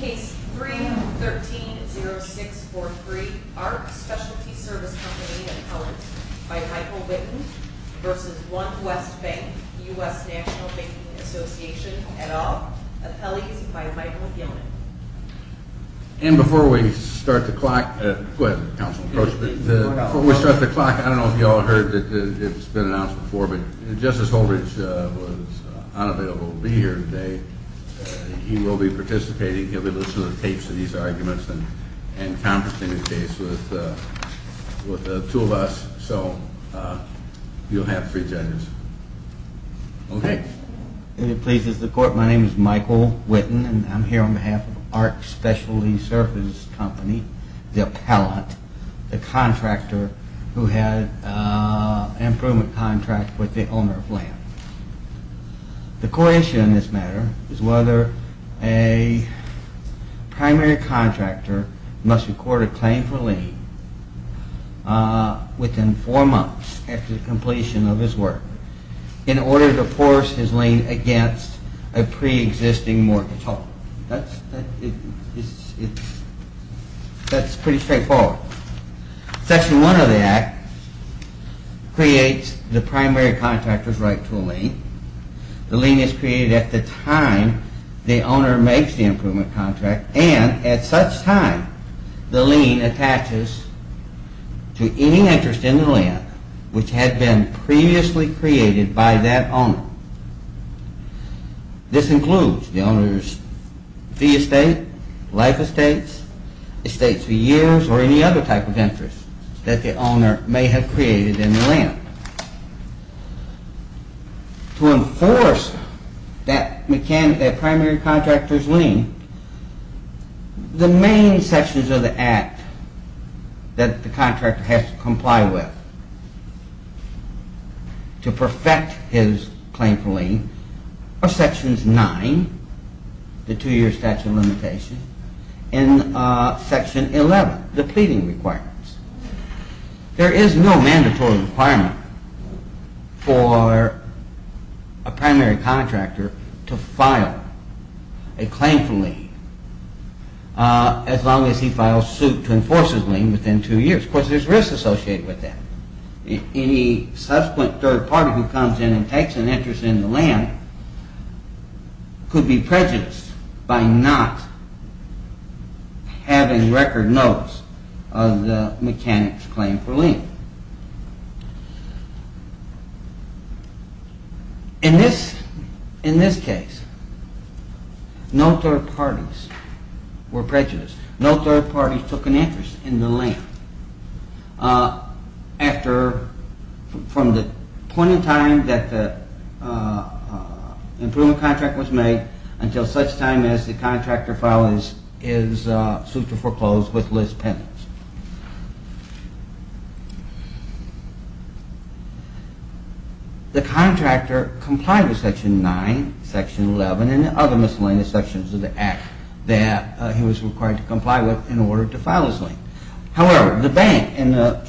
Case 3-130643 ARC Specialty Service Company Appellant by Michael Witten v. One West Bank U.S. National Banking Association et al. Appellees by Michael Yelman And before we start the clock, I don't know if you all heard that it's been announced before, but Justice Holdridge was unavailable to be here today. He will be participating, he'll be listening to the tapes of these arguments and conferencing the case with the two of us, so you'll have three judges. Okay. If it pleases the court, my name is Michael Witten and I'm here on behalf of ARC Specialty Service Company, the appellant, the contractor who had an improvement contract with the owner of land. The court issue in this matter is whether a primary contractor must record a claim for lien within four months after the completion of his work in order to force his lien against a pre-existing mortgage hold. That's pretty straightforward. Section 1 of the Act creates the primary contractor's right to a lien. The lien is created at the time the owner makes the improvement contract and at such time the lien attaches to any interest in the land which had been previously created by that owner. This includes the owner's fee estate, life estates, estates for years, or any other type of interest that the owner may have created in the land. To enforce that primary contractor's lien, the main sections of the Act that the contractor has to comply with to perfect his claim for lien are sections 9, the two-year statute of limitations, and section 11, the pleading requirements. There is no mandatory requirement for a primary contractor to file a claim for lien as long as he files suit to enforce his lien within two years. Of course, there's risks associated with that. Any subsequent third party who comes in and takes an interest in the land could be prejudiced by not having record notes of the mechanic's claim for lien. In this case, no third parties were prejudiced. No third parties took an interest in the land from the point in time that the improvement contract was made until such time as the contractor filed his suit to foreclose with Liz Penance. The contractor complied with section 9, section 11, and other miscellaneous sections of the Act that he was required to comply with in order to file his lien. The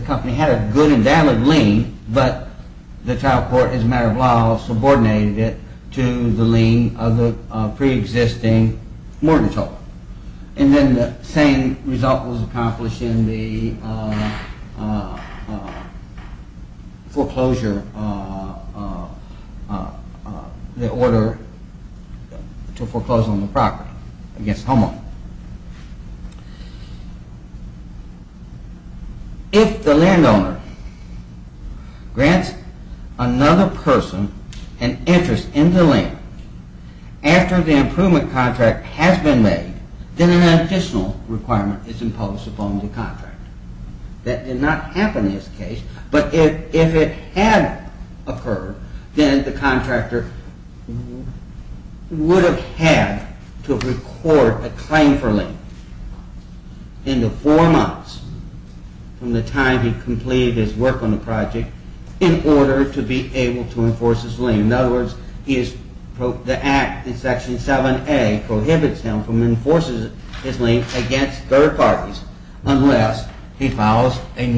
company had a good and valid lien, but the trial court, as a matter of law, subordinated it to the lien of the pre-existing mortgage holder. And then the same result was accomplished in the foreclosure, the order to foreclose on the property against homeowner. If the landowner grants another person an interest in the land after the improvement contract has been made, then an additional requirement is imposed upon the contractor. That did not happen in this case, but if it had occurred, then the contractor would have had to record a claim for lien in the four months from the time he completed his work on the project in order to be able to enforce his lien. In other words, the Act in section 7A prohibits him from enforcing his lien against third parties unless he files a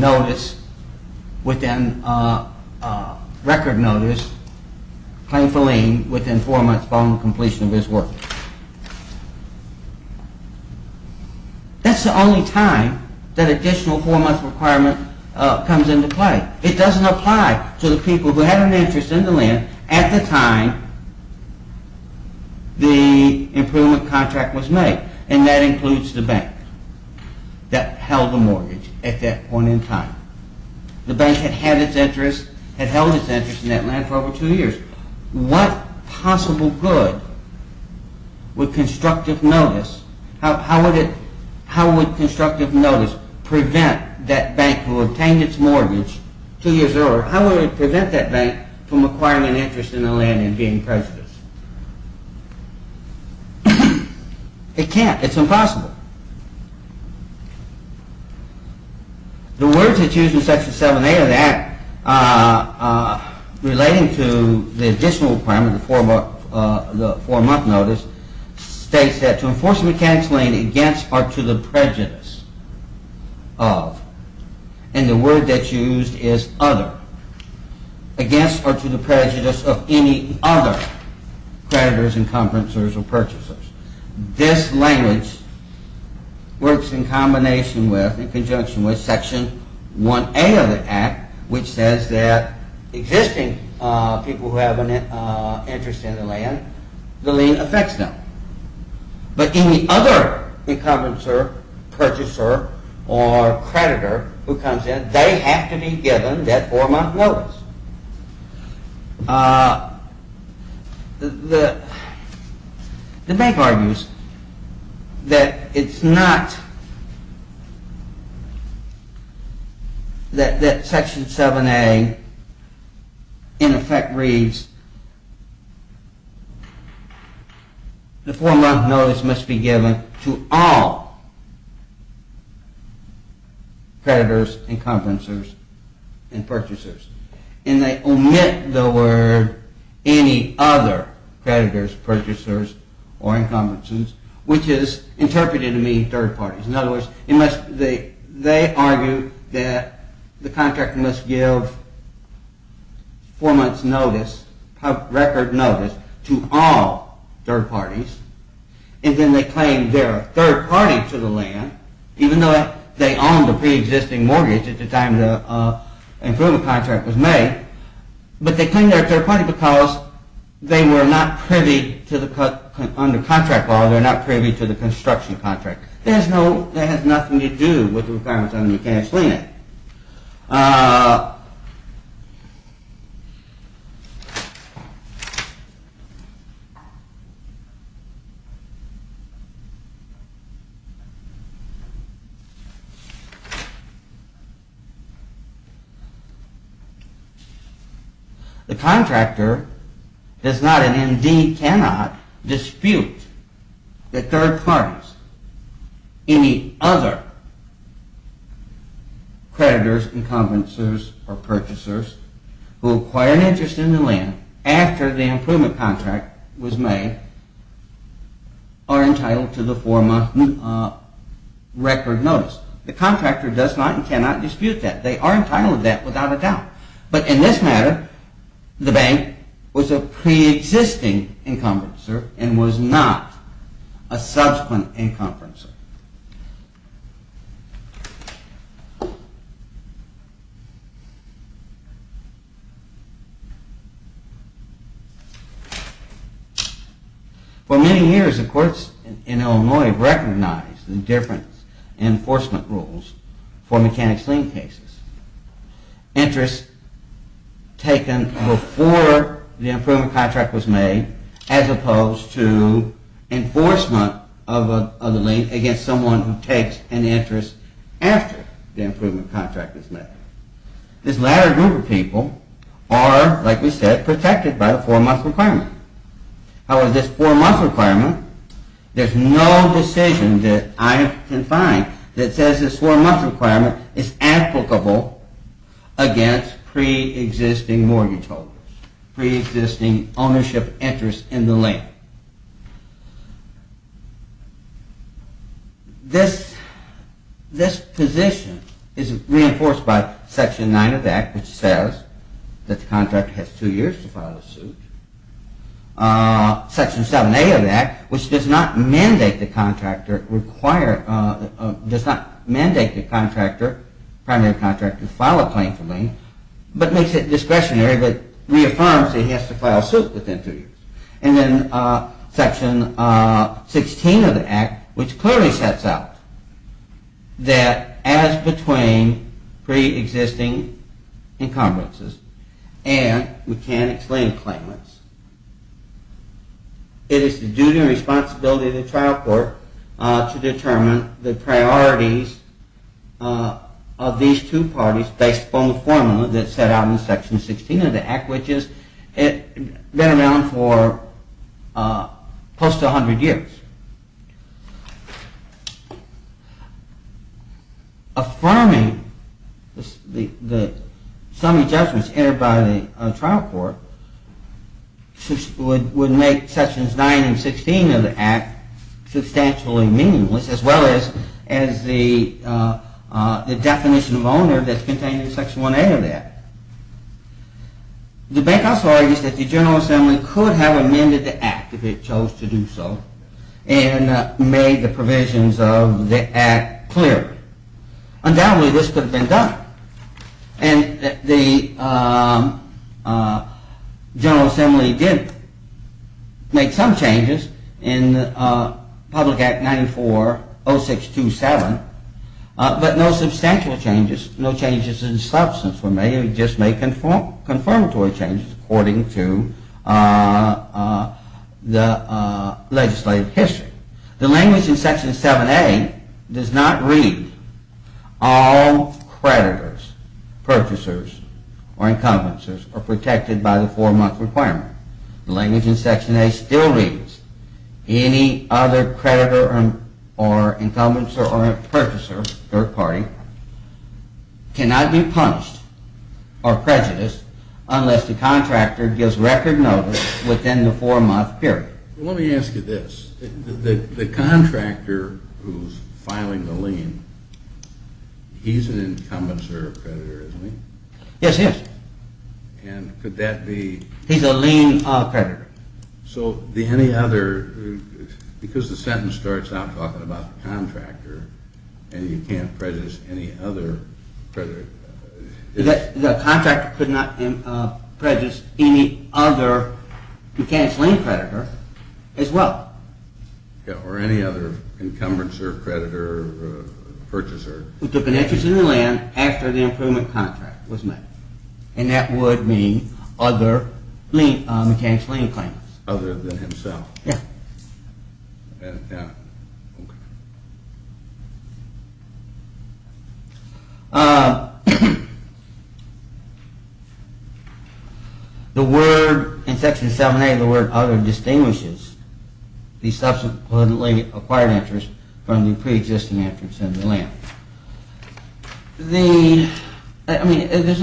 record notice, claim for lien, within four months upon completion of his work. That's the only time that additional four-month requirement comes into play. It doesn't apply to the people who had an interest in the land at the time the improvement contract was made, and that includes the bank that held the mortgage at that point in time. The bank had held its interest in that land for over two years. What possible good would constructive notice, how would constructive notice prevent that bank who obtained its mortgage two years earlier, how would it prevent that bank from acquiring an interest in the land and being prejudiced? It can't. It's impossible. The words that's used in section 7A of the Act relating to the additional requirement, the four-month notice, states that to enforce a mechanic's lien against or to the prejudice of, and the word that's used is other, against or to the prejudice of any other, creditors, encumbrances, or purchasers. This language works in conjunction with section 1A of the Act, which says that existing people who have an interest in the land, the lien affects them, but any other encumbrancer, purchaser, or creditor who comes in, they have to be given that four-month notice. The bank argues that it's not that section 7A in effect reads the four-month notice must be given to all creditors, encumbrances, and purchasers. And they omit the word any other creditors, purchasers, or encumbrances, which is interpreted to mean third parties. In other words, they argue that the contract must give four-month notice, record notice, to all third parties, and then they claim they are a third party to the land, even though they owned a pre-existing mortgage at the time the approval contract was made, but they claim they are a third party because they were not privy to the, under contract law, they were not privy to the construction contract. There's no – that has nothing to do with the requirements. I mean, you can't explain it. The contractor does not and indeed cannot dispute the third parties, any other creditors, encumbrances, or purchasers, who acquire an interest in the land after the approval contract was made are entitled to the four-month record notice. The contractor does not and cannot dispute that. They are entitled to that without a doubt. But in this matter, the bank was a pre-existing encumbrancer and was not a subsequent encumbrancer. For many years the courts in Illinois recognized the different enforcement rules for mechanics lien cases. Interest taken before the approval contract was made as opposed to enforcement of the lien against someone who takes an interest after the approval contract was made. This latter group of people are, like we said, protected by the four-month requirement. However, this four-month requirement, there's no decision that I can find that says this four-month requirement is applicable against pre-existing mortgage holders, pre-existing ownership interests in the land. This position is reinforced by Section 9 of the Act, which says that the contractor has two years to file a suit. Section 7A of the Act, which does not mandate the primary contractor to file a claim for lien, but makes it discretionary, but reaffirms that he has to file a suit within two years. And then Section 16 of the Act, which clearly sets out that as between pre-existing encumbrances and mechanics lien claimants, it is the duty and responsibility of the trial court to determine the priorities of these two parties based upon the formula that's set out in Section 16 of the Act, which has been around for close to 100 years. Affirming the summary judgments entered by the trial court would make Sections 9 and 16 of the Act substantially meaningless as well as the definition of owner that's contained in Section 1A of the Act. The bank also argues that the General Assembly could have amended the Act if it chose to do so and made the provisions of the Act clearer. Undoubtedly, this could have been done, and the General Assembly did make some changes in Public Act 940627, but no substantial changes. No changes in substance. We may have just made confirmatory changes according to the legislative history. The language in Section 7A does not read all creditors, purchasers, or encumbrances are protected by the four-month requirement. The language in Section 8 still reads any other creditor or encumbrancer or purchaser, third party, cannot be punished or prejudiced unless the contractor gives record notice within the four-month period. Let me ask you this. The contractor who's filing the lien, he's an encumbrancer or creditor, isn't he? Yes, he is. And could that be? He's a lien creditor. So the any other, because the sentence starts out talking about the contractor and you can't prejudice any other. The contractor could not prejudice any other mechanic's lien creditor as well. Or any other encumbrancer, creditor, purchaser. Who took an interest in the land after the improvement contract was made. And that would mean other mechanic's lien claimants. Other than himself. The word in Section 7A, the word other distinguishes the subsequently acquired interest from the pre-existing interest in the land. I mean, there's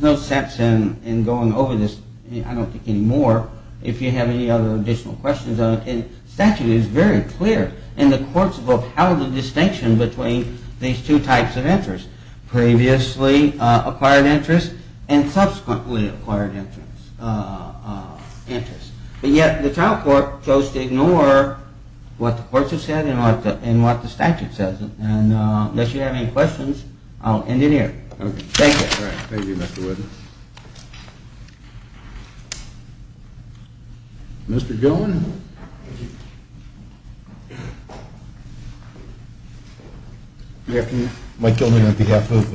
no sense in going over this, I don't think, anymore if you have any other additional questions on it. And the statute is very clear and the courts have upheld the distinction between these two types of interest. And unless you have any questions, I'll end it here. Thank you. Thank you, Mr. Wood. Mr. Gilman. Good afternoon. Mike Gilman on behalf of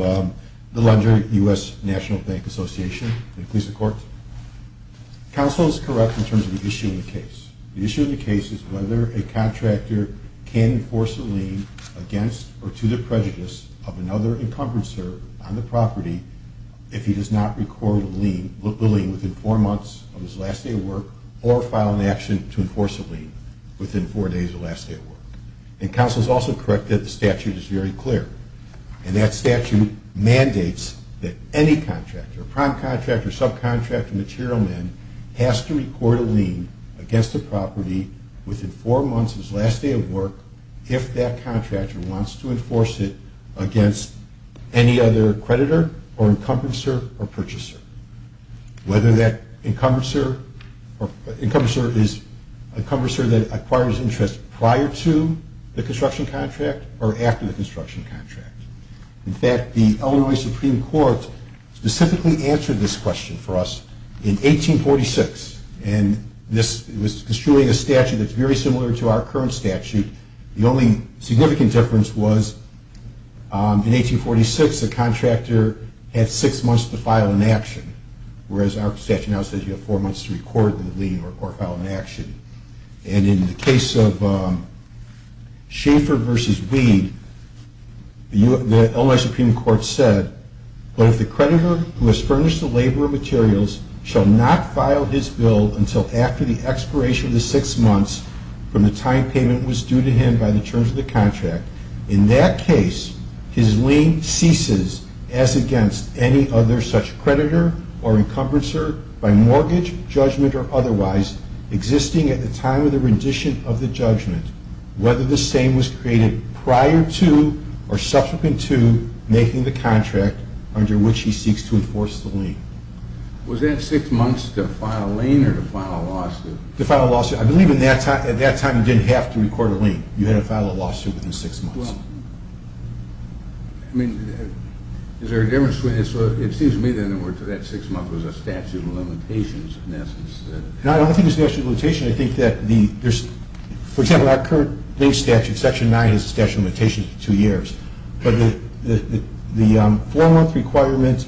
the Lunger U.S. National Bank Association. Counsel is correct in terms of the issue of the case. The issue of the case is whether a contractor can enforce a lien against or to the prejudice of another encumbrancer on the property if he does not record the lien within four months of his last day of work or file an action to enforce a lien within four days of last day of work. And counsel is also correct that the statute is very clear. And that statute mandates that any contractor, prime contractor, subcontractor, material man, has to record a lien against the property within four months of his last day of work if that contractor wants to enforce it against any other creditor or encumbrancer or purchaser. Whether that encumbrancer is a encumbrancer that acquires interest prior to the construction contract or after the construction contract. In fact, the Illinois Supreme Court specifically answered this question for us in 1846. And this was construing a statute that's very similar to our current statute. The only significant difference was in 1846 the contractor had six months to file an action, whereas our statute now says you have four months to record the lien or file an action. And in the case of Schaeffer v. Weed, the Illinois Supreme Court said, but if the creditor who has furnished the labor of materials shall not file his bill until after the expiration of the six months from the time payment was due to him by the terms of the contract, in that case, his lien ceases as against any other such creditor or encumbrancer by mortgage, judgment, or otherwise, existing in that contract. So we're seeing at the time of the rendition of the judgment whether the same was created prior to or subsequent to making the contract under which he seeks to enforce the lien. Was that six months to file a lien or to file a lawsuit? To file a lawsuit. I believe at that time you didn't have to record a lien. You had to file a lawsuit within six months. Well, I mean, is there a difference? It seems to me that in other words that six months was a statute of limitations in essence. No, I don't think it's a statute of limitations. I think that there's, for example, our current lien statute, Section 9, is a statute of limitations for two years. But the four-month requirement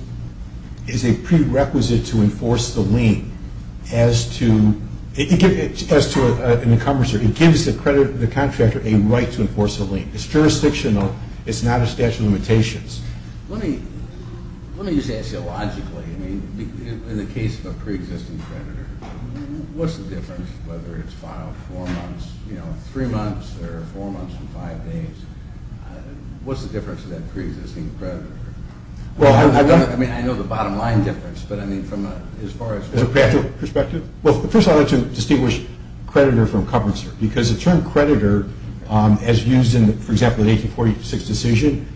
is a prerequisite to enforce the lien as to an encumbrancer. It gives the contractor a right to enforce the lien. It's jurisdictional. It's not a statute of limitations. Let me just ask you logically. I mean, in the case of a preexisting creditor, what's the difference whether it's filed three months or four months or five days? What's the difference to that preexisting creditor? I mean, I know the bottom line difference, but I mean from as far as… Well, first of all, I'd like to distinguish creditor from encumbrancer because the term creditor, as used in, for example, the 1846 decision,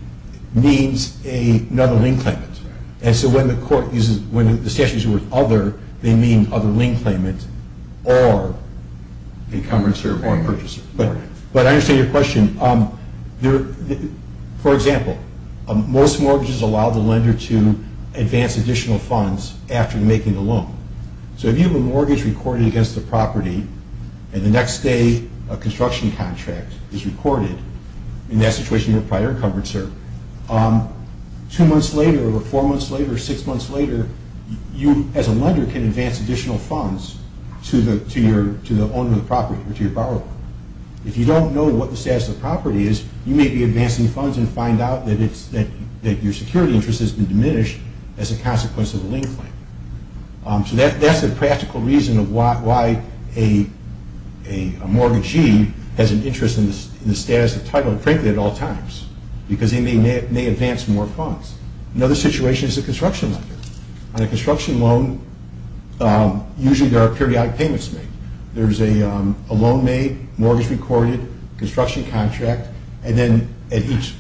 means another lien claimant. And so when the court uses, when the statute uses the word other, they mean other lien claimant or encumbrancer or purchaser. But I understand your question. For example, most mortgages allow the lender to advance additional funds after making the loan. So if you have a mortgage recorded against the property and the next day a construction contract is recorded, in that situation you're a prior encumbrancer. Two months later or four months later or six months later, you as a lender can advance additional funds to the owner of the property or to your borrower. If you don't know what the status of the property is, you may be advancing funds and find out that your security interest has been diminished as a consequence of a lien claim. So that's a practical reason of why a mortgagee has an interest in the status of title, frankly, at all times, because they may advance more funds. Another situation is a construction lender. On a construction loan, usually there are periodic payments made. There's a loan made, mortgage recorded, construction contract, and then at each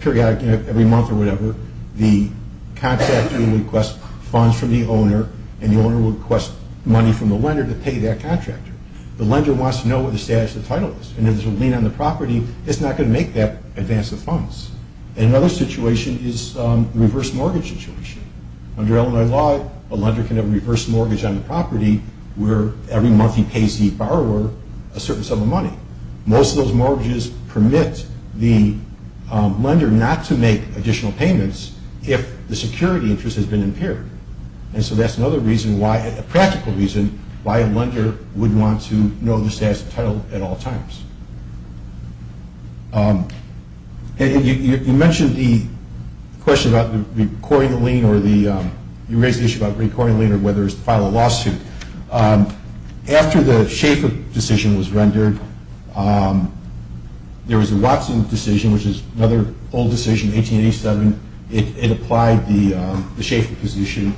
periodic, every month or whatever, the contractor will request funds from the owner and the owner will request money from the lender to pay that contractor. The lender wants to know what the status of the title is, and if there's a lien on the property, it's not going to make that advance of funds. Another situation is the reverse mortgage situation. Under Illinois law, a lender can have a reverse mortgage on the property where every month he pays the borrower a certain sum of money. Most of those mortgages permit the lender not to make additional payments if the security interest has been impaired. And so that's another reason why – a practical reason why a lender would want to know the status of title at all times. You mentioned the question about recording the lien or the – you raised the issue about recording the lien or whether it's to file a lawsuit. After the Schaeffer decision was rendered, there was a Watson decision, which is another old decision, 1887. It applied the Schaeffer decision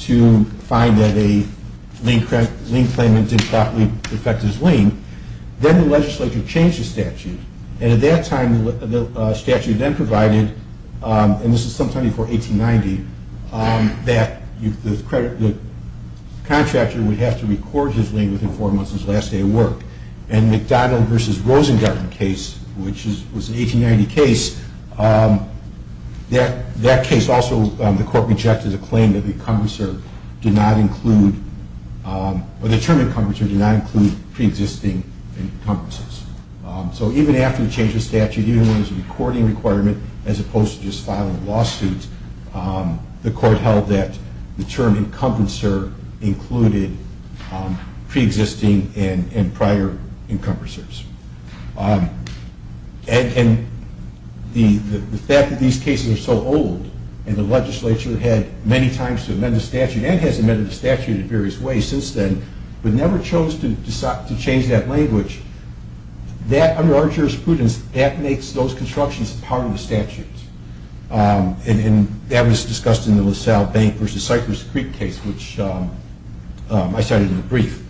to find that a lien claimant didn't properly defect his lien. Then the legislature changed the statute, and at that time, the statute then provided – and this is sometime before 1890 – the contractor would have to record his lien within four months of his last day of work. In the McDonald v. Rosengarten case, which was an 1890 case, that case also – the court rejected a claim that the encumbrancer did not include – or the term encumbrancer did not include preexisting encumbrances. So even after the change of statute, even when there was a recording requirement as opposed to just filing a lawsuit, the court held that the term encumbrancer included preexisting and prior encumbrancers. And the fact that these cases are so old, and the legislature had many times to amend the statute and has amended the statute in various ways since then, but never chose to change that language, that, under our jurisprudence, that makes those constructions part of the statute. And that was discussed in the LaSalle Bank v. Cypress Creek case, which I cited in a brief.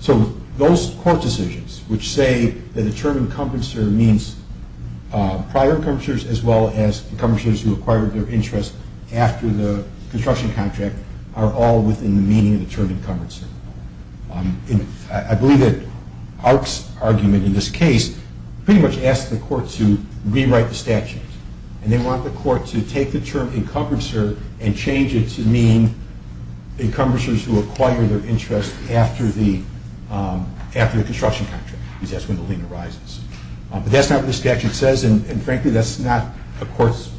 So those court decisions which say that the term encumbrancer means prior encumbrances as well as encumbrances who acquired their interest after the construction contract are all within the meaning of the term encumbrancer. I believe that Arc's argument in this case pretty much asks the court to rewrite the statute, and they want the court to take the term encumbrancer and change it to mean encumbrances who acquired their interest after the construction contract. That's when the lien arises. But that's not what the statute says, and frankly, that's not a court's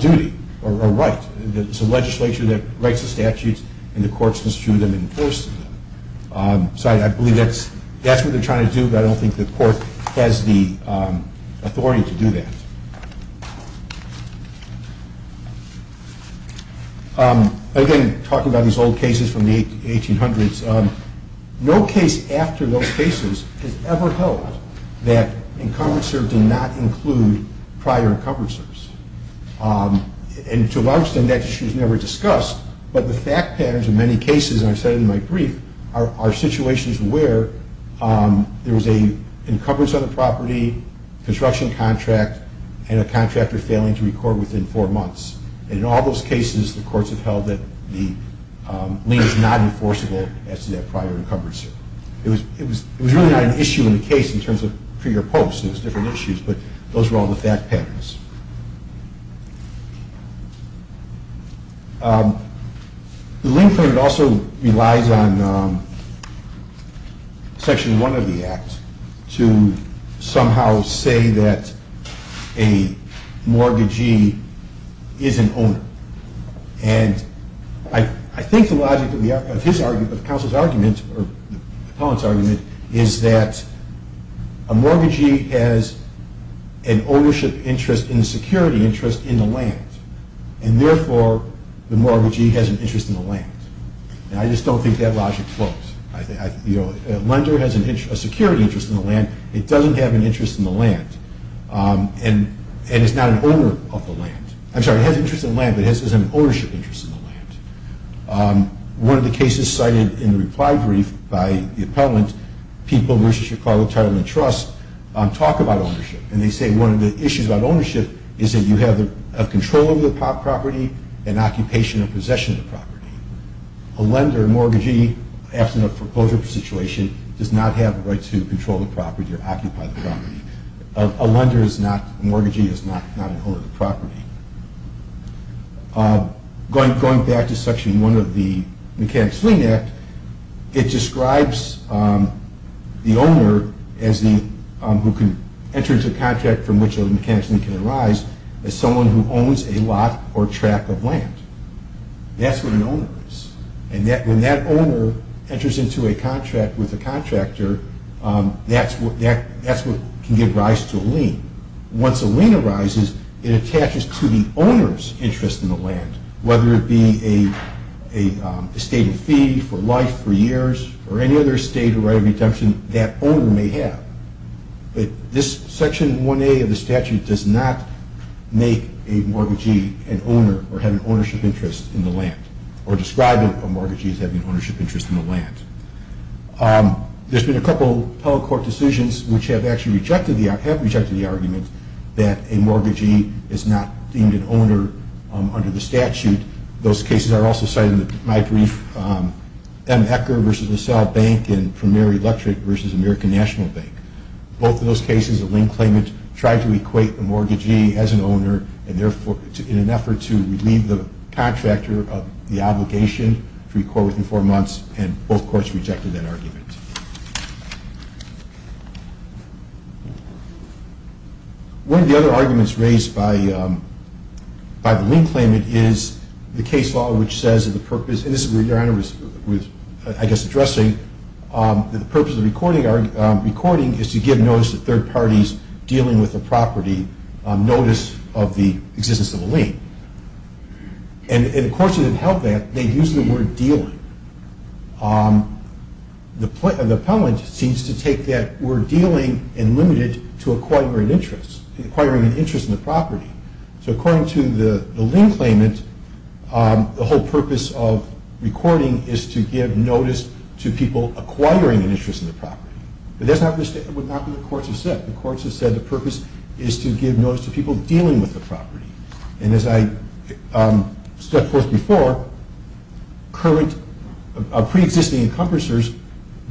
duty or right. It's a legislature that writes the statutes, and the courts construe them and enforce them. So I believe that's what they're trying to do, but I don't think the court has the authority to do that. Again, talking about these old cases from the 1800s, no case after those cases has ever held that encumbrancer did not include prior encumbrancers. And to a large extent, that issue is never discussed, but the fact patterns in many cases, and I've said in my brief, are situations where there was an encumbrance on the property, construction contract, and a contractor failing to record within four months. In all those cases, the courts have held that the lien is not enforceable as to that prior encumbrance. It was really not an issue in the case in terms of pre or post. It was different issues, but those were all the fact patterns. The lien framework also relies on Section 1 of the Act to somehow say that a mortgagee is an owner. And I think the logic of the counsel's argument, or the appellant's argument, is that a mortgagee has an ownership interest in the security interest in the land, and therefore, the mortgagee has an interest in the land. And I just don't think that logic floats. A lender has a security interest in the land. It doesn't have an interest in the land, and it's not an owner of the land. I'm sorry, it has an interest in the land, but it has an ownership interest in the land. One of the cases cited in the reply brief by the appellant, People vs. Chicago Title and Trust, talk about ownership, and they say one of the issues about ownership is that you have control over the property and occupation or possession of the property. A lender, a mortgagee, after a foreclosure situation, does not have the right to control the property or occupy the property. A lender is not, a mortgagee is not an owner of the property. Going back to Section 1 of the Mechanics' Lien Act, it describes the owner who can enter into a contract from which a mechanic's lien can arise as someone who owns a lot or track of land. That's what an owner is. And when that owner enters into a contract with a contractor, that's what can give rise to a lien. Once a lien arises, it attaches to the owner's interest in the land, whether it be a stated fee for life, for years, or any other stated right of redemption that owner may have. But this Section 1A of the statute does not make a mortgagee an owner or have an ownership interest in the land, or describe a mortgagee as having an ownership interest in the land. There's been a couple of telecourt decisions which have actually rejected the argument that a mortgagee is not deemed an owner under the statute. Those cases are also cited in my brief, M. Ecker v. LaSalle Bank and Premier Electric v. American National Bank. Both of those cases, a lien claimant tried to equate a mortgagee as an owner and therefore in an effort to relieve the contractor of the obligation to record within four months, and both courts rejected that argument. One of the other arguments raised by the lien claimant is the case law which says that the purpose of the recording is to give notice to third parties dealing with a property on notice of the existence of a lien. And the courts that have held that, they've used the word dealing. The appellant seems to take that word dealing and limit it to acquiring an interest in the property. So according to the lien claimant, the whole purpose of recording is to give notice to people acquiring an interest in the property. But that's not what the courts have said. The courts have said the purpose is to give notice to people dealing with the property. And as I said before, pre-existing encompassers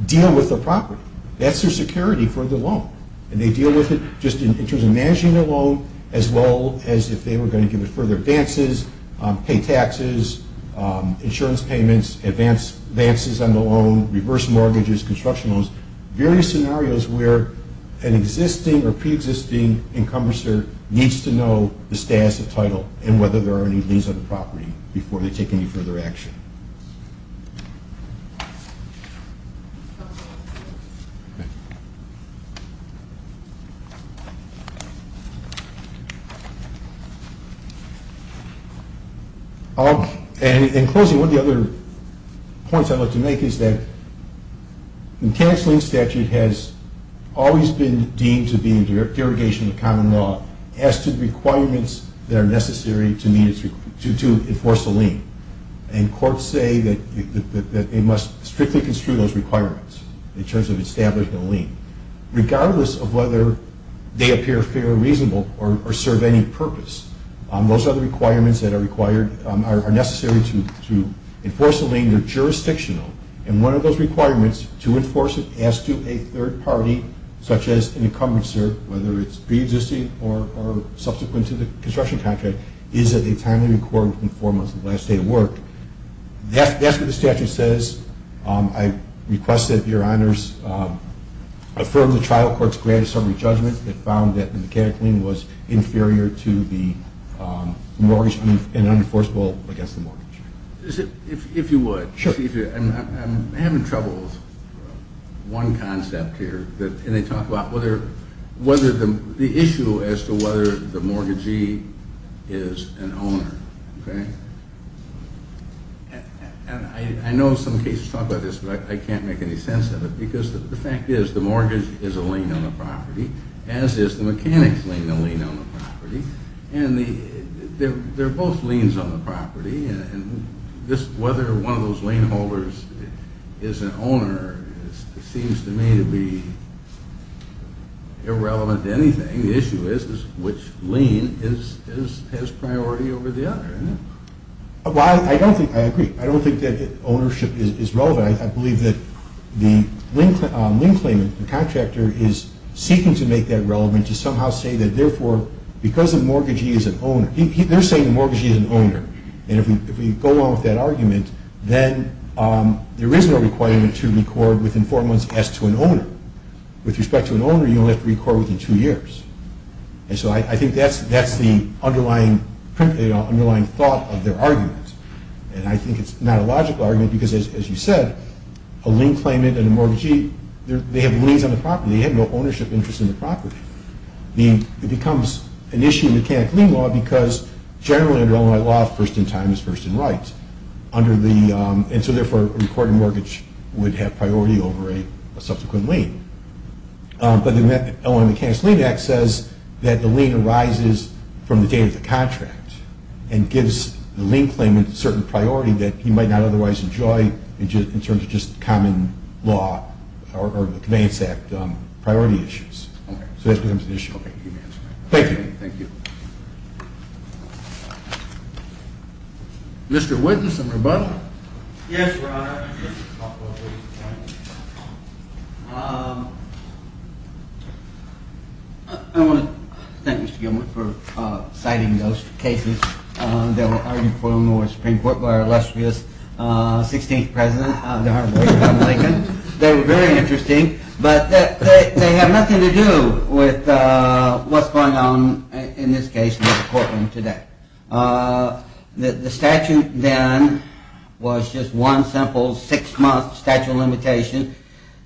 deal with the property. That's their security for the loan. And they deal with it just in terms of managing the loan as well as if they were going to give it further advances, pay taxes, insurance payments, advances on the loan, reverse mortgages, construction loans, various scenarios where an existing or pre-existing encompasser needs to know the status, the title, and whether there are any liens on the property before they take any further action. In closing, one of the other points I'd like to make is that the mechanics lien statute has always been deemed to be in derogation of common law as to the requirements that are necessary to enforce a lien. And courts say that they must strictly construe those requirements in terms of establishing a lien, regardless of whether they appear fair or reasonable or serve any purpose. And one of those requirements to enforce it as to a third party, such as an encompasser, whether it's pre-existing or subsequent to the construction contract, is that they timely record within four months of the last day of work. That's what the statute says. I request that Your Honors affirm the trial court's grand summary judgment that found that the mechanic lien was inferior to the mortgage and unenforceable against the mortgage. If you would. Sure. I'm having trouble with one concept here. And they talk about whether the issue as to whether the mortgagee is an owner. And I know some cases talk about this, but I can't make any sense of it because the fact is the mortgage is a lien on the property, as is the mechanic's lien a lien on the property. And they're both liens on the property, and whether one of those lien holders is an owner seems to me to be irrelevant to anything. The issue is which lien has priority over the other. Well, I agree. I don't think that ownership is relevant. I believe that the lien claimant, the contractor, is seeking to make that relevant and to somehow say that, therefore, because the mortgagee is an owner, they're saying the mortgagee is an owner. And if we go along with that argument, then there is no requirement to record within four months as to an owner. With respect to an owner, you only have to record within two years. And so I think that's the underlying thought of their argument. And I think it's not a logical argument because, as you said, a lien claimant and a mortgagee, they have liens on the property. They have no ownership interest in the property. It becomes an issue in mechanic lien law because generally under Illinois law, first in time is first in right. And so, therefore, a recorded mortgage would have priority over a subsequent lien. But the Illinois Mechanic's Lien Act says that the lien arises from the date of the contract and gives the lien claimant a certain priority that he might not otherwise enjoy in terms of just common law or the Commands Act priority issues. So that becomes an issue. Thank you. Thank you. Mr. Witness and Rebuttal. Yes, Your Honor. I want to thank Mr. Gilman for citing those cases that were argued for in the Supreme Court by our illustrious 16th President, the Honorable John Lincoln. They were very interesting. But they have nothing to do with what's going on in this case in the courtroom today. The statute then was just one simple six-month statute of limitation.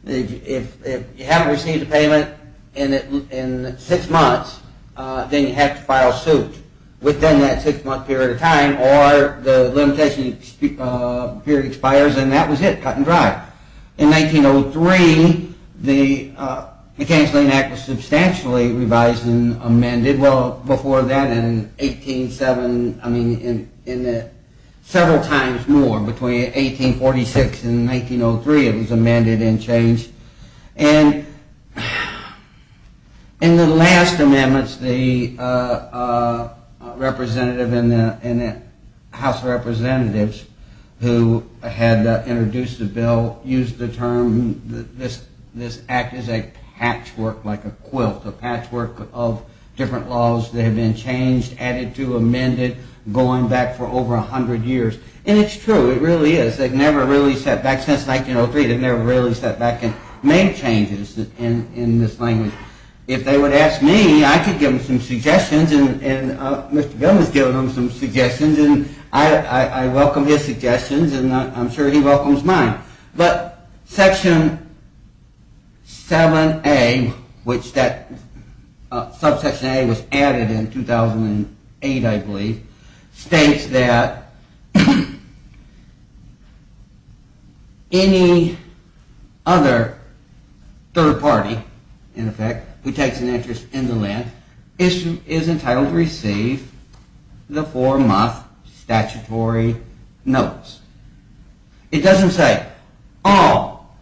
If you haven't received a payment in six months, then you have to file suit within that six-month period of time or the limitation period expires and that was it, cut and dry. In 1903, the Mechanic's Lien Act was substantially revised and amended. Well, before that, in 187, I mean, in several times more, between 1846 and 1903, it was amended and changed. And in the last amendments, the representative in the House of Representatives, who had introduced the bill, used the term, this act is a patchwork, like a quilt, a patchwork of different laws that have been changed, added to, amended, going back for over 100 years. And it's true, it really is. Since 1903, they've never really stepped back and made changes in this language. If they would ask me, I could give them some suggestions and Mr. Bill has given them some suggestions and I welcome his suggestions and I'm sure he welcomes mine. But Section 7A, which that, subsection A was added in 2008, I believe, states that any other third party, in effect, who takes an interest in the land is entitled to receive the four-month statutory notice. It doesn't say all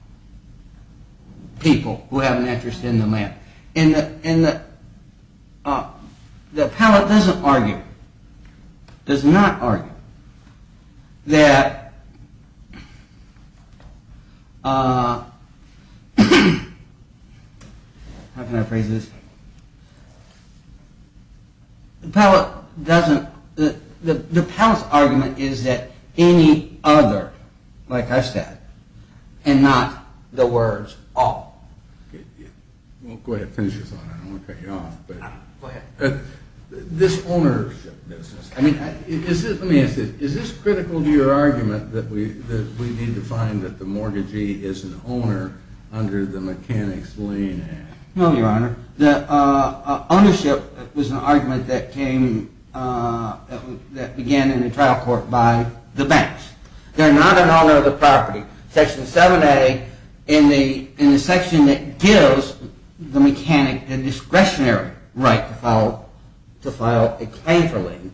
people who have an interest in the land. And the Pellet doesn't argue, does not argue, that, how can I phrase this, the Pellet's argument is that any other, like I said, and not the words all. Go ahead, finish your thought, I don't want to cut you off. Go ahead. This ownership business, let me ask you, is this critical to your argument that we need to find that the mortgagee is an owner under the Mechanics Lane Act? No, Your Honor. Ownership was an argument that came, that began in the trial court by the banks. They're not an owner of the property. Section 7A, in the section that gives the mechanic the discretionary right to file a claim for lien,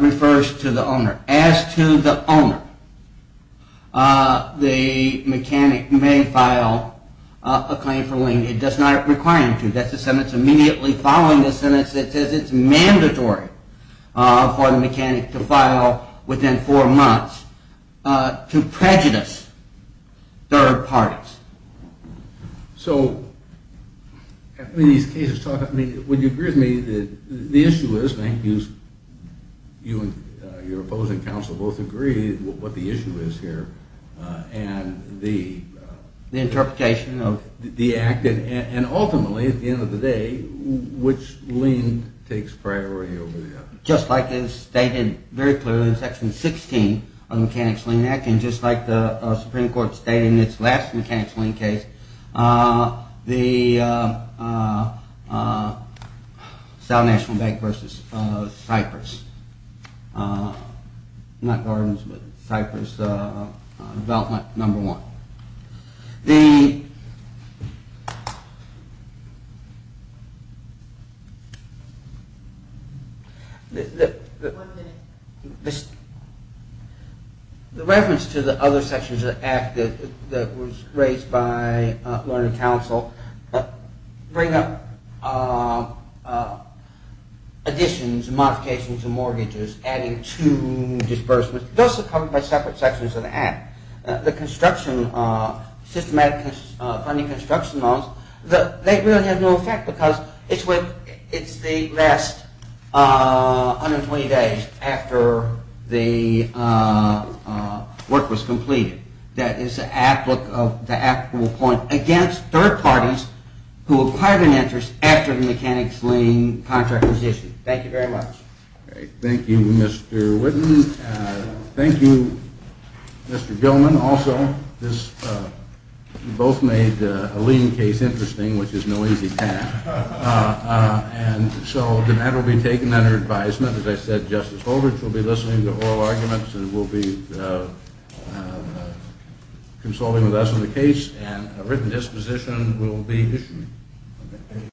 refers to the owner. As to the owner, the mechanic may file a claim for lien. That's the sentence immediately following the sentence that says it's mandatory for the mechanic to file within four months to prejudice third parties. So, would you agree with me that the issue is, and I think you and your opposing counsel both agree what the issue is here, and the interpretation of the act, and ultimately at the end of the day, which lien takes priority over the other? Just like it's stated very clearly in section 16 of the Mechanics Lane Act, and just like the Supreme Court stated in its last Mechanics Lane case, the South National Bank versus Cypress, not Gardens, but Cypress development number one. The reference to the other sections of the act that was raised by Learner Counsel bring up additions, modifications, and mortgages adding to disbursements. Those are covered by separate sections of the act. The construction, systematic funding construction laws, they really have no effect because it's the last 120 days after the work was completed. That is the actual point against third parties who acquired an interest after the Mechanics Lane contract was issued. Thank you very much. Thank you, Mr. Whitten. Thank you, Mr. Gilman, also. You both made a lien case interesting, which is no easy task. And so that will be taken under advisement. As I said, Justice Goldrich will be listening to oral arguments and will be consulting with us on the case, and a written disposition will be issued.